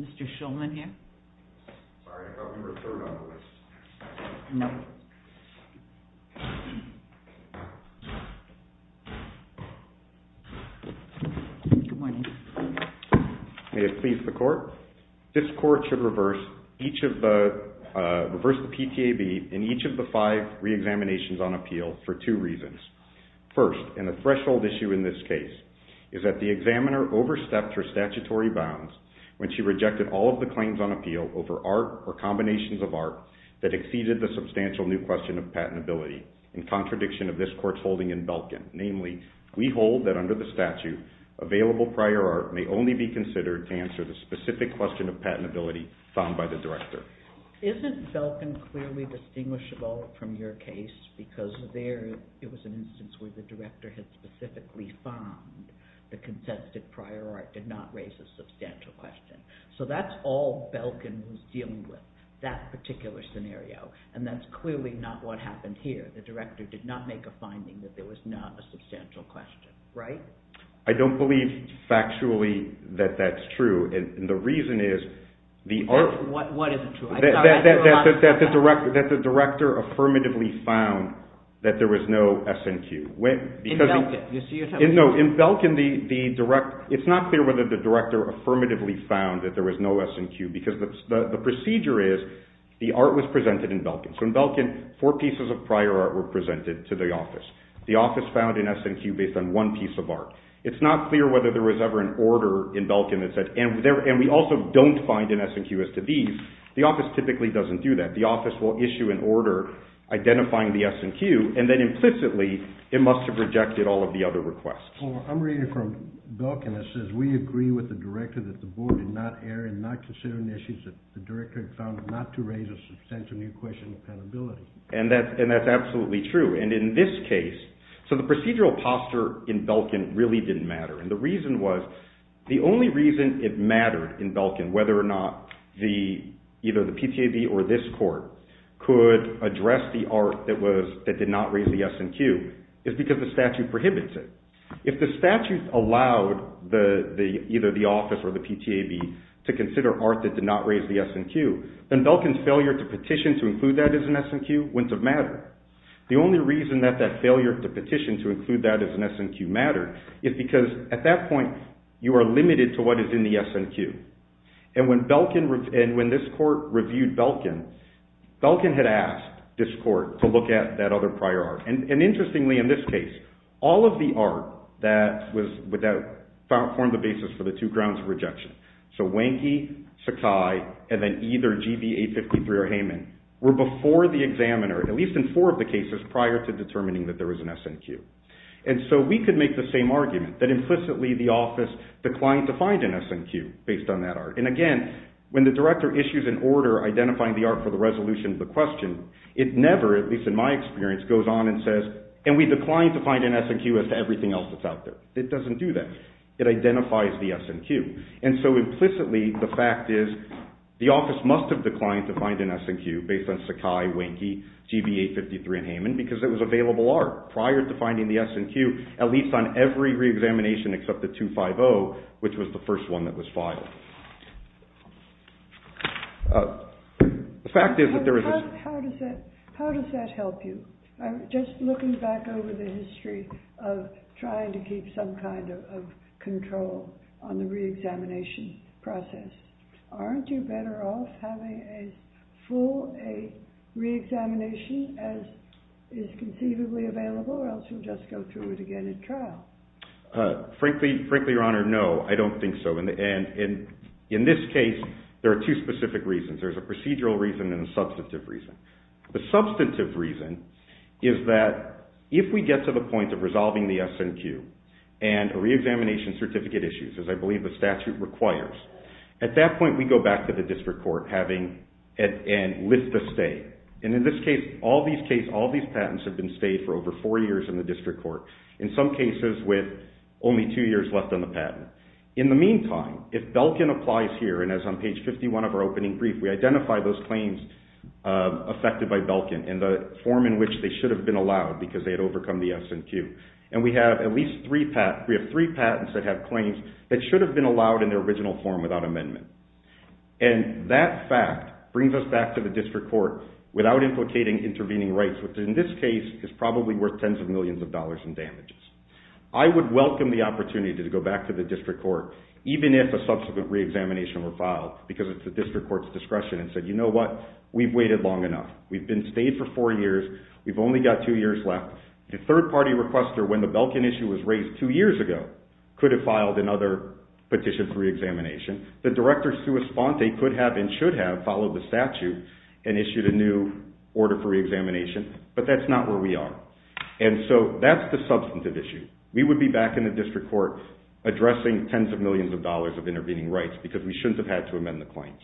Mr. Shulman here. May it please the court. This court should reverse each of the reverse the PTAB in each of the five re-examinations on appeal for two reasons. First, and the threshold issue in this case, is that the examiner overstepped her statutory bounds when she rejected all of the claims on appeal over art or combinations of art that exceeded the substantial new question of patentability in contradiction of this court's holding in Belkin. Namely, we hold that under the statute available prior art may only be considered to answer the specific question of patentability found by the director. Isn't Belkin clearly distinguishable from your case because there it was an instance where the director had specifically found the prior art did not raise a substantial question. So that's all Belkin was dealing with that particular scenario and that's clearly not what happened here. The director did not make a finding that there was not a substantial question, right? I don't believe factually that that's true and the reason is that the director affirmatively found that there was no S&Q. In Belkin, it's not clear whether the director affirmatively found that there was no S&Q because the procedure is the art was presented in Belkin. So in Belkin, four pieces of prior art were presented to the office. The office found an S&Q based on one piece of art. It's not clear whether there was ever an order in Belkin that said, and we also don't find an S&Q as to these, the office typically doesn't do that. The office will issue an order identifying the S&Q and then implicitly it must have rejected all of the other requests. I'm reading from Belkin that says we agree with the director that the board did not err in not considering issues that the director had found not to raise a substantial new question of accountability. And that's absolutely true and in this case, so the procedural posture in Belkin really didn't matter and the reason was the only reason it mattered in Belkin whether or not the either the PTAB or this court could address the art that did not raise the S&Q is because the statute prohibits it. If the statute allowed either the office or the PTAB to consider art that did not raise the S&Q, then Belkin's failure to petition to include that as an S&Q wouldn't have mattered. The only reason that that failure to petition to include that as an S&Q mattered is because at that point you are limited to what is in the S&Q and when Belkin and when this court reviewed Belkin, Belkin had asked this court to look at that other prior art and interestingly in this case, all of the art that was without found formed the basis for the two grounds of rejection. So Wanky, Sakai and then either GBA-53 or Heyman were before the examiner at least in four of the cases prior to determining that there was an S&Q. And so we could make the same argument that implicitly the office declined to find an S&Q based on that and again when the director issues an order identifying the art for the resolution of the question, it never, at least in my experience, goes on and says and we declined to find an S&Q as to everything else that's out there. It doesn't do that. It identifies the S&Q and so implicitly the fact is the office must have declined to find an S&Q based on Sakai, Wanky, GBA-53 and Heyman because it was available art prior to finding the S&Q at least on every examination except the 250 which was the first one that was filed. The fact is that there was... How does that help you? I'm just looking back over the history of trying to keep some kind of control on the re-examination process. Aren't you better off having a full re-examination as is conceivably available or else you just go through it again at trial? Frankly, your honor, no I don't think so and in this case there are two specific reasons. There's a procedural reason and a substantive reason. The substantive reason is that if we get to the point of resolving the S&Q and a re-examination certificate issues as I believe the statute requires, at that point we go back to the district court having and list the state and in this case all these patents have been stayed for over four years in the district court. In some cases with only two years left on the patent. In the meantime, if Belkin applies here and as on page 51 of our opening brief, we identify those claims affected by Belkin in the form in which they should have been allowed because they had overcome the S&Q and we have at least three patents that have claims that should have been allowed in their original form without amendment and that fact brings us back to the district court without implicating intervening rights which in this case is probably worth tens of millions of dollars in damages. I would welcome the opportunity to go back to the district court even if a subsequent re-examination were filed because it's the district court's discretion and said you know what we've waited long enough we've been stayed for four years we've only got two years left. The third-party requester when the Belkin issue was raised two years ago could have filed another petition for re-examination. The director sui sponte could have and but that's not where we are and so that's the substantive issue. We would be back in the district court addressing tens of millions of dollars of intervening rights because we shouldn't have had to amend the claims.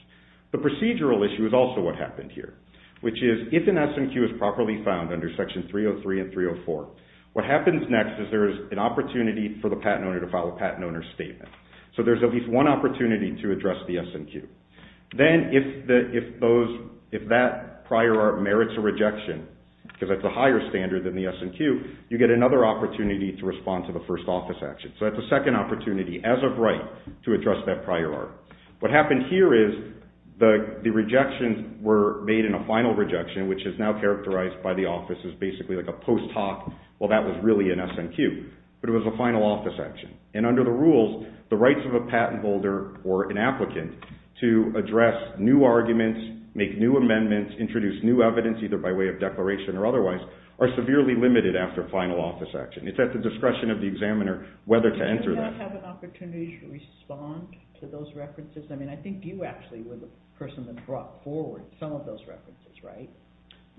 The procedural issue is also what happened here which is if an S&Q is properly found under section 303 and 304 what happens next is there is an opportunity for the patent owner to file a patent owner statement so there's at least one opportunity to address the S&Q. Then if that prior art is a rejection because that's a higher standard than the S&Q you get another opportunity to respond to the first office action so that's a second opportunity as of right to address that prior art. What happened here is the the rejections were made in a final rejection which is now characterized by the office is basically like a post hoc well that was really an S&Q but it was a final office action and under the rules the rights of a patent holder or an applicant to address new arguments make new amendments introduce new evidence either by way of declaration or otherwise are severely limited after final office action. It's at the discretion of the examiner whether to enter that opportunity to respond to those references. I mean I think you actually were the person that brought forward some of those references, right?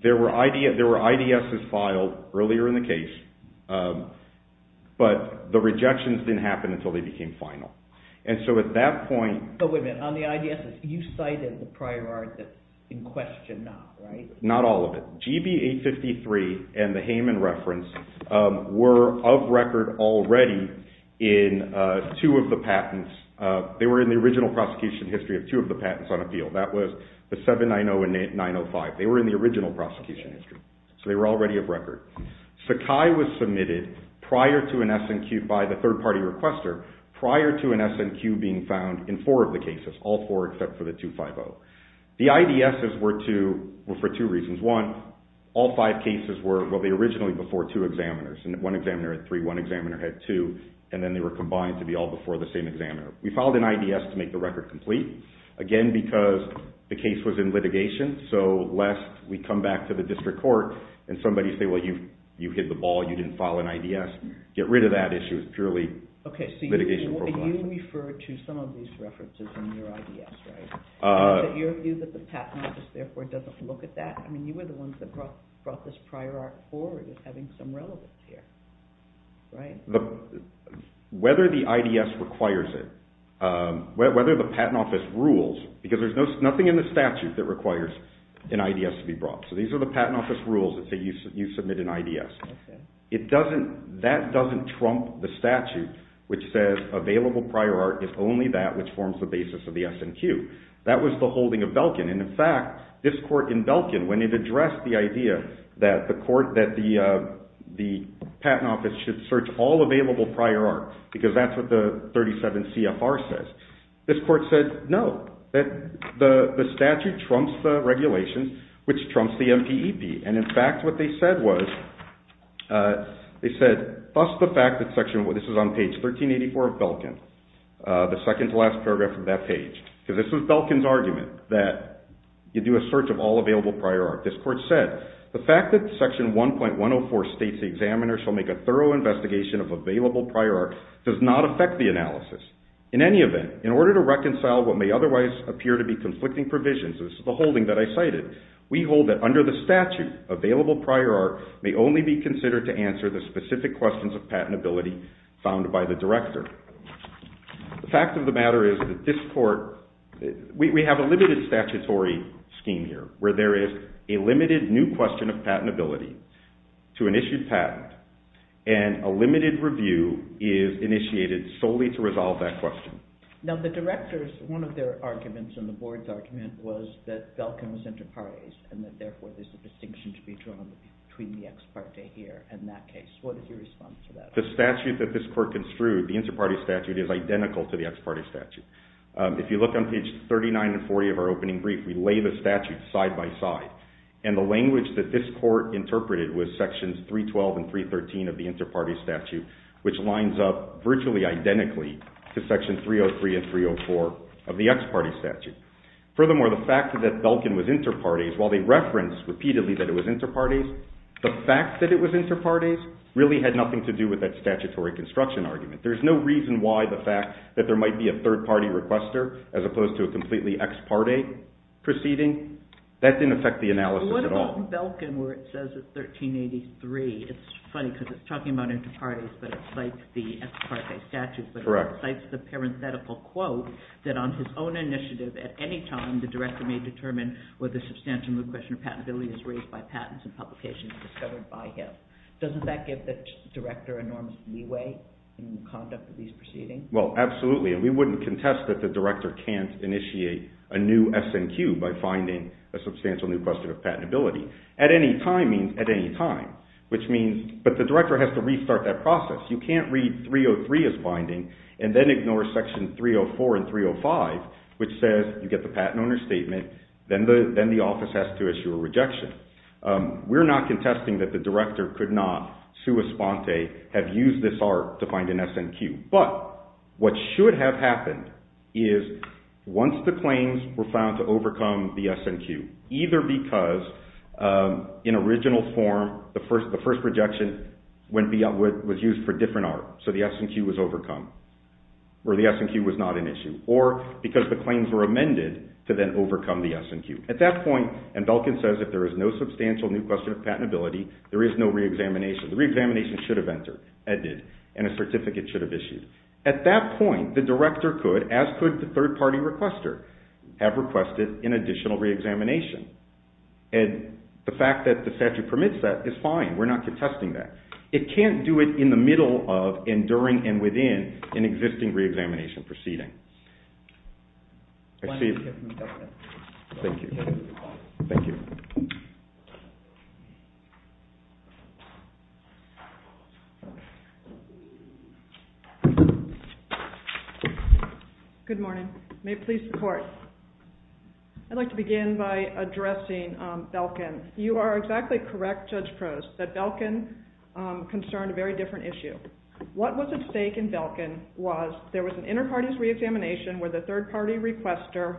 There were ideas filed earlier in the case but the rejections didn't happen until they became final and so at that point but not all of it. GB 853 and the Hayman reference were of record already in two of the patents they were in the original prosecution history of two of the patents on appeal that was the 790 and 905 they were in the original prosecution history so they were already of record. Sakai was submitted prior to an S&Q by the third party requester prior to an S&Q being found in four of The IDSs were for two reasons. One, all five cases were originally before two examiners and one examiner had three, one examiner had two and then they were combined to be all before the same examiner. We filed an IDS to make the record complete again because the case was in litigation so lest we come back to the district court and somebody say well you you hit the ball you didn't file an IDS. Get rid of that issue. It's purely a litigation process. You refer to some of these references in your IDS right? Do you view that the Patent Office therefore doesn't look at that? I mean you were the ones that brought this prior art forward as having some relevance here. Whether the IDS requires it, whether the Patent Office rules because there's nothing in the statute that requires an IDS to be brought so these are the Patent Office rules that say you submit an IDS. It doesn't, that prior art is only that which forms the basis of the SNQ. That was the holding of Belkin and in fact this court in Belkin when it addressed the idea that the court that the the Patent Office should search all available prior art because that's what the 37 CFR says. This court said no that the statute trumps the regulations which trumps the MPEP and in fact what they said was they said thus the fact that section what this is on page 1384 of Belkin the second to last paragraph of that page because this was Belkin's argument that you do a search of all available prior art. This court said the fact that section 1.104 states the examiner shall make a thorough investigation of available prior art does not affect the analysis. In any event in order to reconcile what may otherwise appear to be conflicting provisions, this is the holding that I cited, we hold that under the statute available prior art may only be questions of patentability found by the director. The fact of the matter is that this court, we have a limited statutory scheme here where there is a limited new question of patentability to an issued patent and a limited review is initiated solely to resolve that question. Now the directors one of their arguments and the board's argument was that Belkin was inter partes and that therefore there's a distinction to be drawn between the ex parte here and that case. What is your response to that? The statute that this court construed, the inter parte statute is identical to the ex parte statute. If you look on page 39 and 40 of our opening brief, we lay the statute side by side and the language that this court interpreted was sections 312 and 313 of the inter parte statute which lines up virtually identically to section 303 and 304 of the ex parte statute. Furthermore the fact that Belkin was inter partes while they referenced repeatedly that it was inter partes the fact that it was inter partes really had nothing to do with that statutory construction argument. There's no reason why the fact that there might be a third party requester as opposed to a completely ex parte proceeding. That didn't affect the analysis at all. What about Belkin where it says it's 1383? It's funny because it's talking about inter partes but it's like the ex parte statute but it cites the parenthetical quote that on his own initiative at any time the director may determine whether substantial new question of patentability is raised by the director. Doesn't that give the director enormous leeway in the conduct of these proceedings? Well absolutely and we wouldn't contest that the director can't initiate a new SNQ by finding a substantial new question of patentability. At any time means at any time which means but the director has to restart that process. You can't read 303 as binding and then ignore section 304 and 305 which says you get the patent owner statement then the then the office has to issue a rejection. We're not contesting that the director could not sua sponte have used this art to find an SNQ but what should have happened is once the claims were found to overcome the SNQ either because in original form the first the first rejection went beyond what was used for different art so the SNQ was overcome or the SNQ was not an issue or because the claims were broken says if there is no substantial new question of patentability there is no re-examination. The re-examination should have entered and a certificate should have issued. At that point the director could as could the third-party requester have requested an additional re-examination and the fact that the statute permits that is fine we're not contesting that. It can't do it in the middle of enduring and within an existing re-examination proceeding. I see. Thank you. Good morning. May it please the court. I'd like to begin by addressing Belkin. You are exactly correct Judge Prost that Belkin concerned a very different issue. What was at stake in Belkin was there was an inter-parties re-examination with a third-party requester.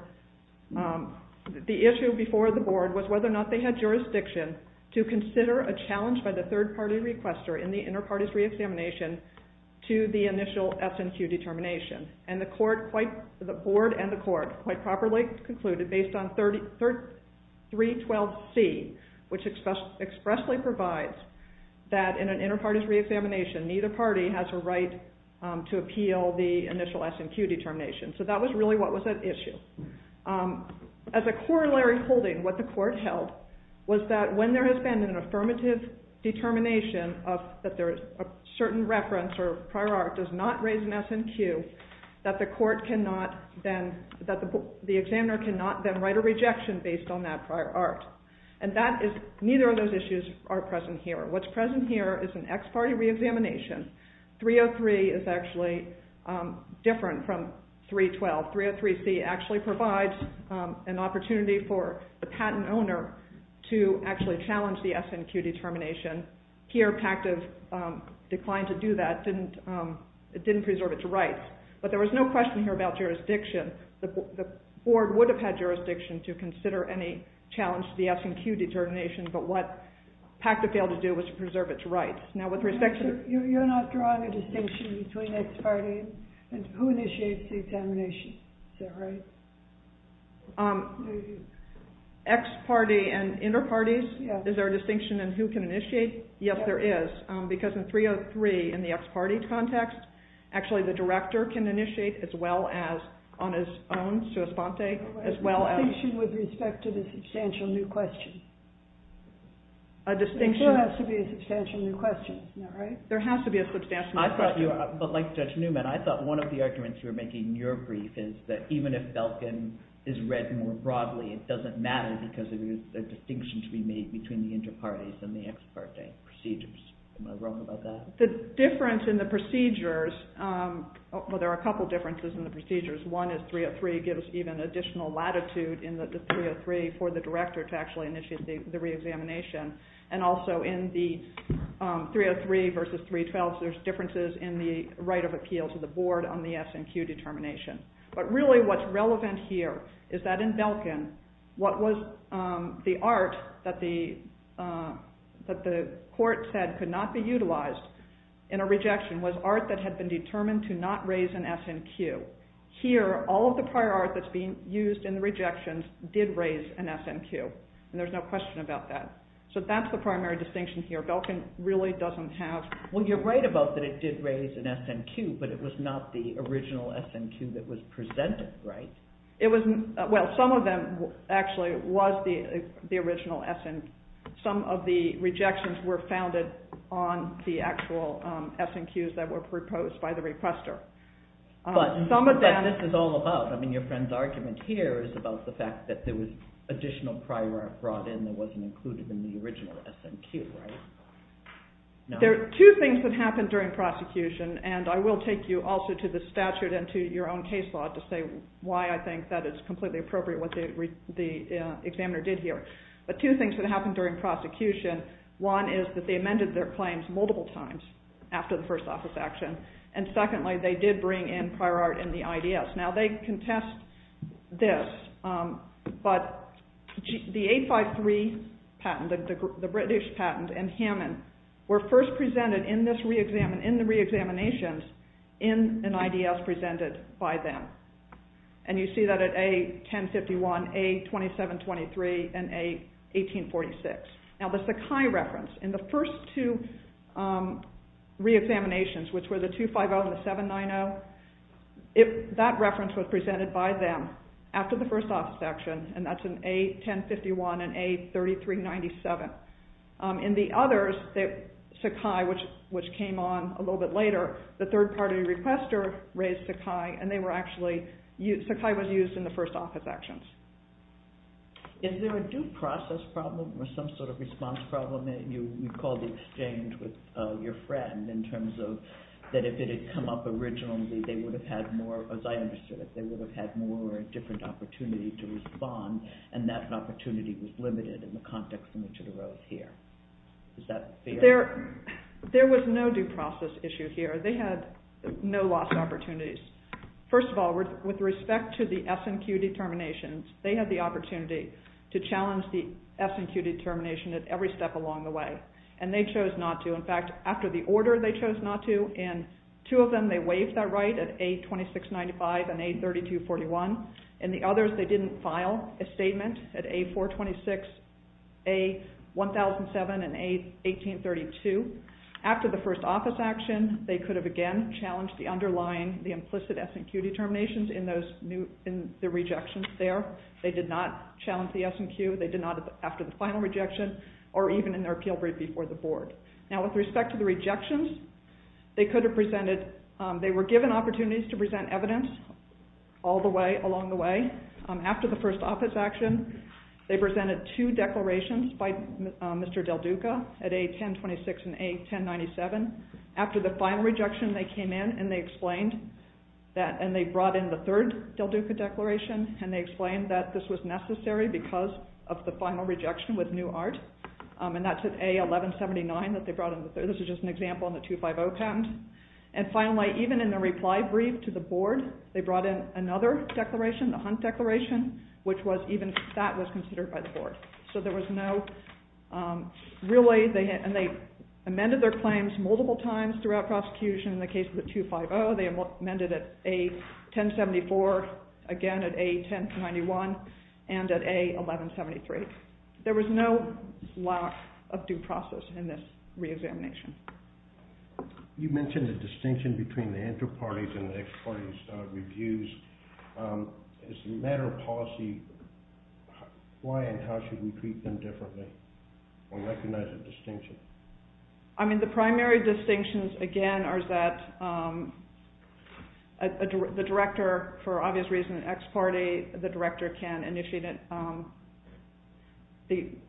The issue before the board was whether or not they had jurisdiction to consider a challenge by the third-party requester in the inter-parties re-examination to the initial SNQ determination and the court quite the board and the court quite properly concluded based on 312C which expressly provides that in an inter-parties re-examination neither party has a right to appeal the initial SNQ determination. So that was really what was at issue. As a corollary holding what the court held was that when there has been an affirmative determination of that there is a certain reference or prior art does not raise an SNQ that the court cannot then that the examiner cannot then write a rejection based on that prior art and that is neither of those issues are present here. What's present here is an ex-party re-examination. 303 is actually different from 312. 303C actually provides an opportunity for the patent owner to actually challenge the SNQ determination. Here PACTA declined to do that. It didn't preserve its rights but there was no question here about jurisdiction. The board would have had jurisdiction to consider any challenge to the SNQ determination but what PACTA failed to do was preserve its rights. You're not drawing a distinction between ex-parties and who initiates the examination, is that right? Ex-party and inter-parties, is there a distinction in who can initiate? Yes there is because in 303 in the ex-party context actually the director can initiate as well as on his own, sua sponte. A distinction with respect to the question, is that right? There has to be a substantial question. But like Judge Newman, I thought one of the arguments you were making in your brief is that even if Belkin is read more broadly it doesn't matter because it is a distinction to be made between the inter-parties and the ex-party procedures. Am I wrong about that? The difference in the procedures, well there are a couple differences in the procedures. One is 303 gives even additional latitude in the 303 for the director to initiate the re-examination and also in the 303 versus 312 there's differences in the right of appeal to the board on the SNQ determination. But really what's relevant here is that in Belkin what was the art that the court said could not be utilized in a rejection was art that had been determined to not raise an SNQ. Here all of the prior art that's being used in the rejections did raise an SNQ and there's no question about that. So that's the primary distinction here. Belkin really doesn't have... Well you're right about that it did raise an SNQ but it was not the original SNQ that was presented, right? Well some of them actually was the original SNQ. Some of the rejections were founded on the actual SNQs that were proposed by the requester. But this is all about, I mean your friend's argument here is about the fact that there was additional prior art brought in that wasn't included in the original SNQ, right? There are two things that happened during prosecution and I will take you also to the statute and to your own case law to say why I think that it's completely appropriate what the examiner did here. But two things that happened during prosecution, one is that they amended their claims multiple times after the first office action and secondly they did bring in prior art in the IDS. Now they contest this but the 853 patent, the British patent and Hammond were first presented in the re-examinations in an IDS presented by them. And you see that at A1051, A2723 and A1846. Now the Sakai reference, in the first two re-examinations which were the 250 and the 790, that reference was presented by them after the first office action and that's in A1051 and A3397. In the others, Sakai which came on a little bit later, the third party requester raised Sakai and Sakai was used in the first office actions. Is there a due process problem or some sort of response problem that you call the exchange with your friend in terms of that if it had come up originally they would have had more, as I understood it, they would have had more or a different opportunity to respond and that opportunity was limited in the context in which it arose here. There was no due process issue here. They had no lost opportunities. First of all, with respect to the S&Q determinations, they had the opportunity to challenge the S&Q determination at every step along the way and they chose not to. In fact, after the order they chose not to and two of them they waived that right at A2695 and A3241 and the others they didn't file a statement at A426, A1007 and A1832. After the first office action, they could have again challenged the underlying, the implicit S&Q determinations in the rejections there. They did not challenge the S&Q. They did not after the final rejection or even in their appeal right before the board. Now, with respect to the rejections, they were given opportunities to present evidence all the way along the way. After the first office action, they presented two declarations by Mr. Del Duca at A1026 and A1097. After the final rejection, they came in and they brought in the third Del Duca declaration and they explained that this was just an example in the 250 patent. And finally, even in the reply brief to the board, they brought in another declaration, the Hunt declaration, which was even that was considered by the board. So there was no, really, and they amended their claims multiple times throughout prosecution. In the case of the 250, they amended it at A1074, again at A1091 and at A1173. There was no lack of due process in this re-examination. You mentioned the distinction between the inter-parties and the ex-parties' reviews. As a matter of policy, why and how should we treat them differently or recognize a distinction? I mean, the primary distinctions, again, are that the director, for obvious reasons, ex-party, the director can initiate an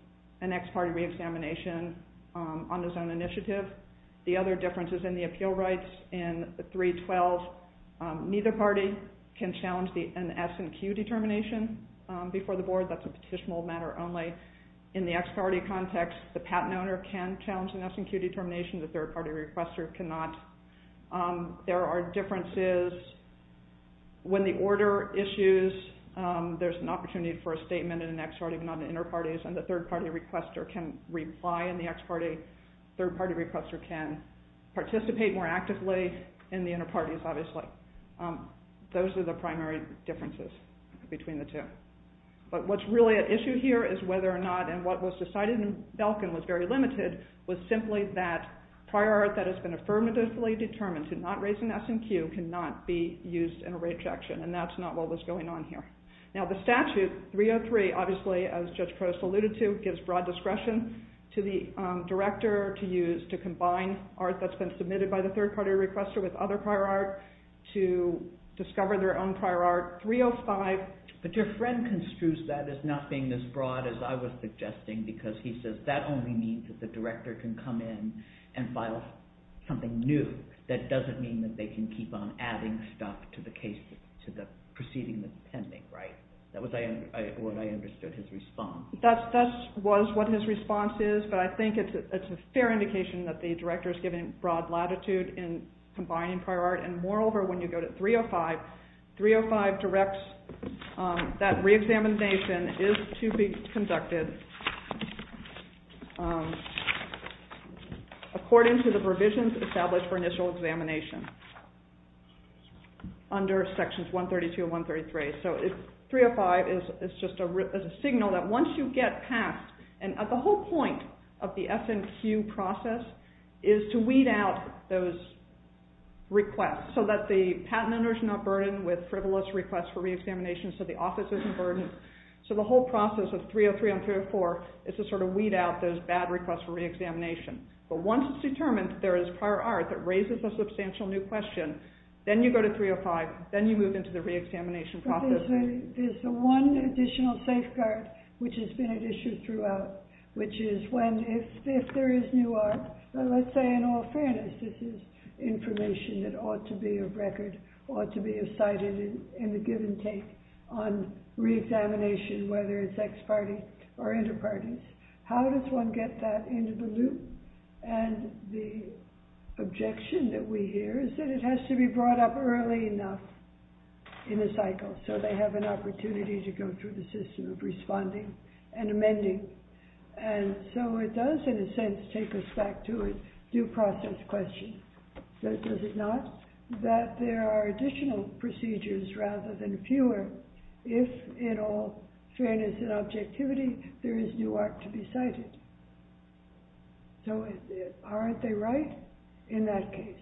ex-party re-examination on his own initiative. The other difference is in the appeal rights in 312, neither party can challenge an S&Q determination before the board. That's a petitionable matter only. In the ex-party context, the patent owner can challenge an S&Q determination. The third-party requester cannot. There are differences when the order issues. There's an opportunity for a statement in an ex-party, but not in inter-parties. And the third-party requester can reply in the ex-party. Third-party requester can participate more actively in the inter-parties, obviously. Those are the primary differences between the two. But what's really at issue here is whether or not, and what was decided in Belkin was very limited, was simply that prior art that has been affirmatively determined to not raise an S&Q cannot be used in a rejection. And that's not what was going on here. Now the statute, 303, obviously, as Judge Protas alluded to, gives broad discretion to the director to use to combine art that's been submitted by the third-party requester with other prior art to discover their own prior art. 305... That was what I understood his response. That was what his response is, but I think it's a fair indication that the director is giving broad latitude in combining prior art. And moreover, when you go to 305, 305 directs that re-examination is to be conducted according to the provisions established for initial examination under Sections 132 and 133. So 305 is just a signal that once you get past, and at the whole point of the S&Q process is to weed out those requests so that the patent owner is not burdened with frivolous requests for re-examination, so the office isn't burdened. So the whole process of 303 and 304 is to sort of weed out those bad requests for re-examination. But once it's determined that there is prior art that raises a substantial new question, then you go to 305, then you move into the re-examination process. So there's the one additional safeguard which has been at issue throughout, which is when, if there is new art, let's say in all fairness this is information that ought to be of record, ought to be of sighted in the give and take on re-examination, whether it's ex-party or inter-parties. How does one get that into the loop? And the objection that we hear is that it has to be brought up early enough in the cycle so they have an opportunity to go through the system of responding and amending. And so it does in a sense take us back to a due process question. Does it not? That there are additional procedures rather than fewer if in all fairness and objectivity there is new art to be cited. So aren't they right in that case?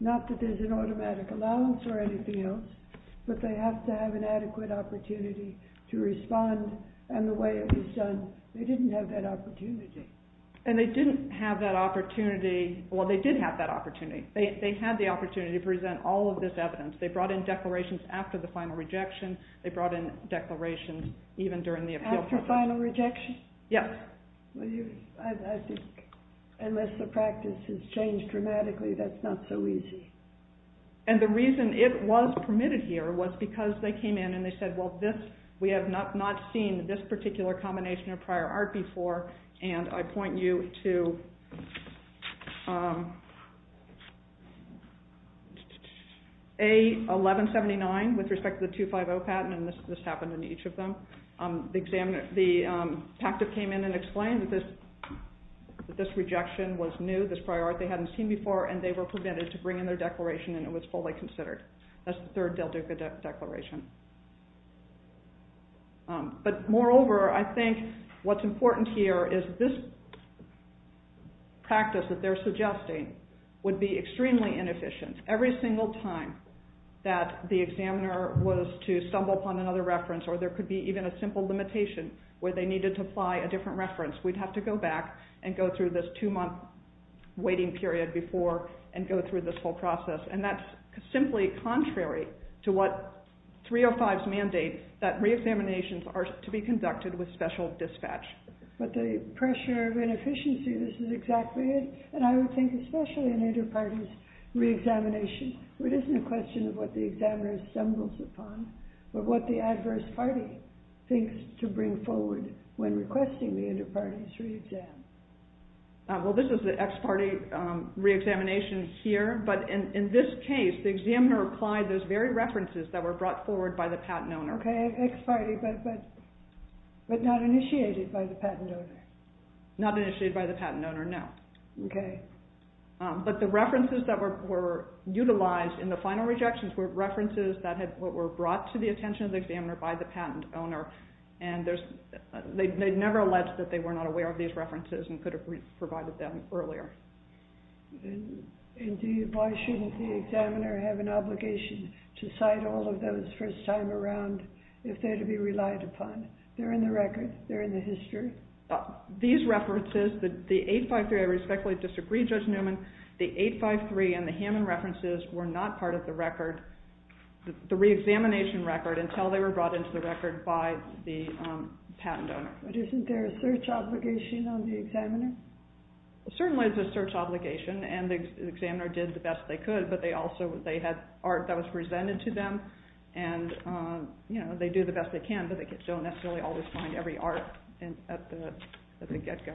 Not that there's an automatic allowance or anything else, but they have to have an adequate opportunity to respond and the way it was done, they didn't have that opportunity. And they didn't have that opportunity, well they did have that opportunity. They had the opportunity to present all of this evidence. They brought in declarations after the final rejection, they brought in declarations even during the appeal process. After final rejection? Yes. Unless the practice has changed dramatically, that's not so easy. And the reason it was permitted here was because they came in and they said well this, we have not seen this particular combination of prior art before and I point you to A1179 with respect to the 250 patent and this happened in each of them. The PACTA came in and explained that this rejection was new, this prior art they hadn't seen before and they were permitted to bring in their declaration and it was fully considered. That's the third Del Duca declaration. But moreover, I think what's important here is this practice that they're suggesting would be extremely inefficient. Every single time that the examiner was to stumble upon another reference or there could be even a simple limitation where they needed to apply a different reference, we'd have to go back and go through this two month waiting period before and go through this whole process. And that's simply contrary to what 305's mandate that re-examinations are to be conducted with special dispatch. But the pressure of inefficiency, this is exactly it. And I would think especially in inter-parties re-examination, it isn't a question of what the examiner stumbles upon, but what the adverse party thinks to bring forward when requesting the inter-parties re-exam. Well, this is the ex-party re-examination here, but in this case, the examiner applied those very references that were brought forward by the patent owner. Okay, ex-party, but not initiated by the patent owner. Not initiated by the patent owner, no. Okay. But the references that were utilized in the final rejections were references that were brought to the attention of the examiner by the patent owner. And they never alleged that they were not aware of these references and could have provided them earlier. And why shouldn't the examiner have an obligation to cite all of those first time around if they're to be relied upon? They're in the record, they're in the history. These references, the 853, I respectfully disagree, Judge Newman, the 853 and the Hammond references were not part of the record, the re-examination record, until they were brought into the record by the patent owner. But isn't there a search obligation on the examiner? Certainly there's a search obligation, and the examiner did the best they could, but they also, they had art that was presented to them, and they do the best they can, but they don't necessarily always find every art at the get-go.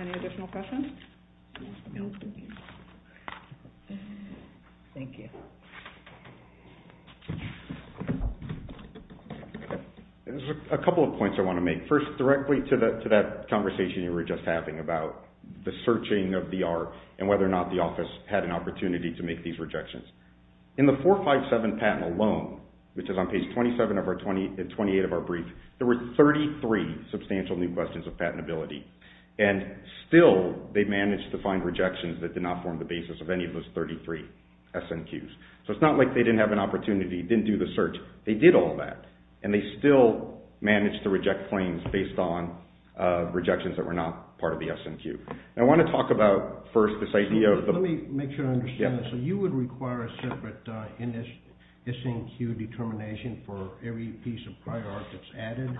Any additional questions? Thank you. There's a couple of points I want to make. First, directly to that conversation you were just having about the searching of the art and whether or not the office had an opportunity to make these rejections. In the 457 patent alone, which is on page 27 of our, 28 of our brief, there were 33 substantial new questions of patentability, and still they managed to find rejections that did not form the basis of any of those 33 SNQs. So it's not like they didn't have an opportunity, didn't do the search. They did all that, and they still managed to reject claims based on rejections that were not part of the SNQ. I want to talk about first this idea of the… Let me make sure I understand this. So you would require a separate SNQ determination for every piece of prior art that's added?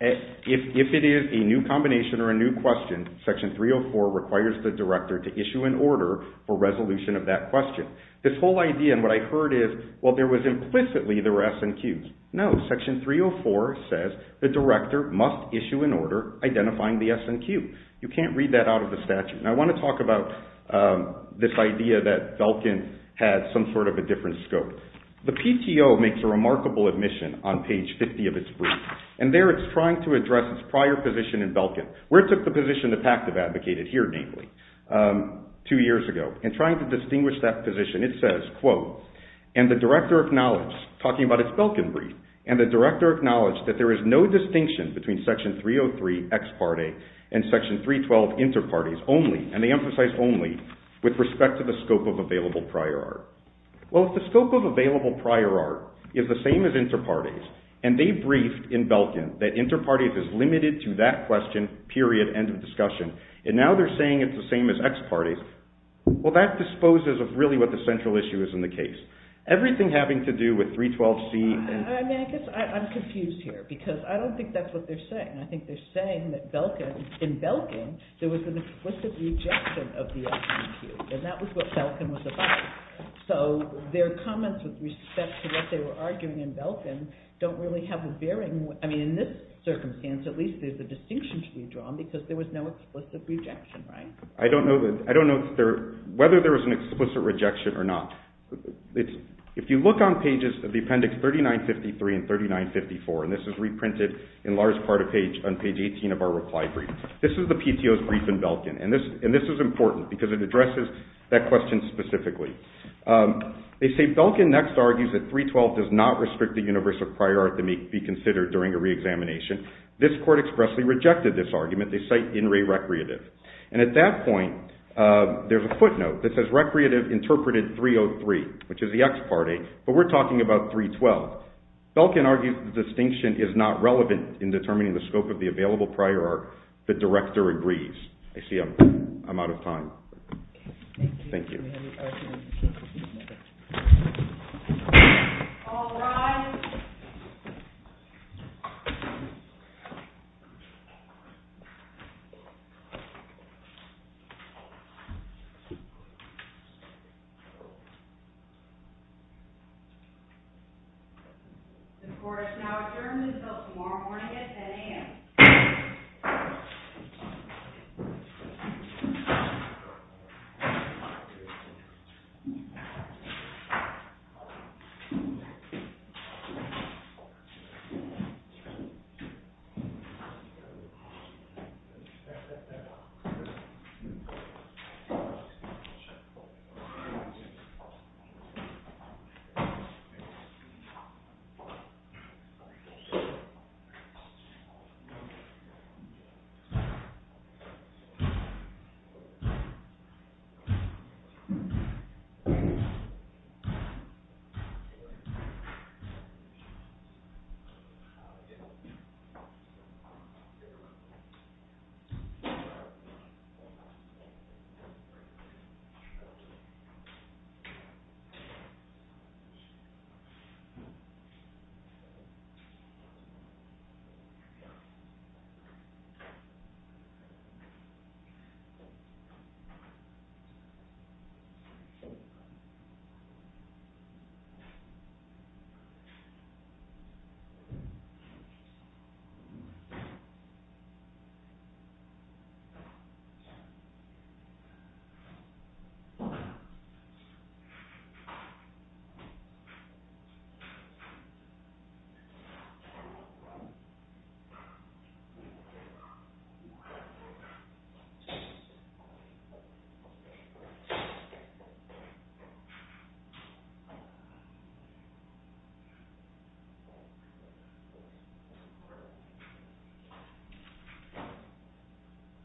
If it is a new combination or a new question, section 304 requires the director to issue an order for resolution of that question. This whole idea, and what I heard is, well, there was implicitly there were SNQs. No, section 304 says the director must issue an order identifying the SNQ. You can't read that out of the statute, and I want to talk about this idea that Velkin had some sort of a different scope. The PTO makes a remarkable admission on page 50 of its brief, and there it's trying to address its prior position in Velkin, where it took the position the PACT had advocated here, namely, two years ago. In trying to distinguish that position, it says, quote, and the director acknowledged, talking about its Velkin brief, and the director acknowledged that there is no distinction between section 303 ex parte and section 312 inter partes only, and they emphasize only, with respect to the scope of available prior art. Well, if the scope of available prior art is the same as inter partes, and they briefed in Velkin that inter partes is limited to that question, period, end of discussion, and now they're saying it's the same as ex partes, well, that disposes of really what the central issue is in the case. Everything having to do with 312C. I guess I'm confused here, because I don't think that's what they're saying. I think they're saying that Velkin, in Velkin, there was an explicit rejection of the SNQ, and that was what Velkin was about. So their comments with respect to what they were arguing in Velkin don't really have a bearing. I mean, in this circumstance, at least there's a distinction to be drawn, because there was no explicit rejection, right? I don't know whether there was an explicit rejection or not. If you look on pages of the appendix 3953 and 3954, and this is reprinted in large part on page 18 of our reply brief, this is the PTO's brief in Velkin, and this is important, because it addresses that question specifically. They say Velkin next argues that 312 does not restrict the universe of prior art to be considered during a reexamination. This court expressly rejected this argument. They cite in re-recreative, and at that point, there's a footnote that says recreative interpreted 303, which is the ex parte, but we're talking about 312. Velkin argues the distinction is not relevant in determining the scope of the available prior art. The director agrees. I see I'm out of time. Thank you. All rise. The court is now adjourned until tomorrow morning at 10 a.m. Thank you. Thank you. Thank you. Thank you.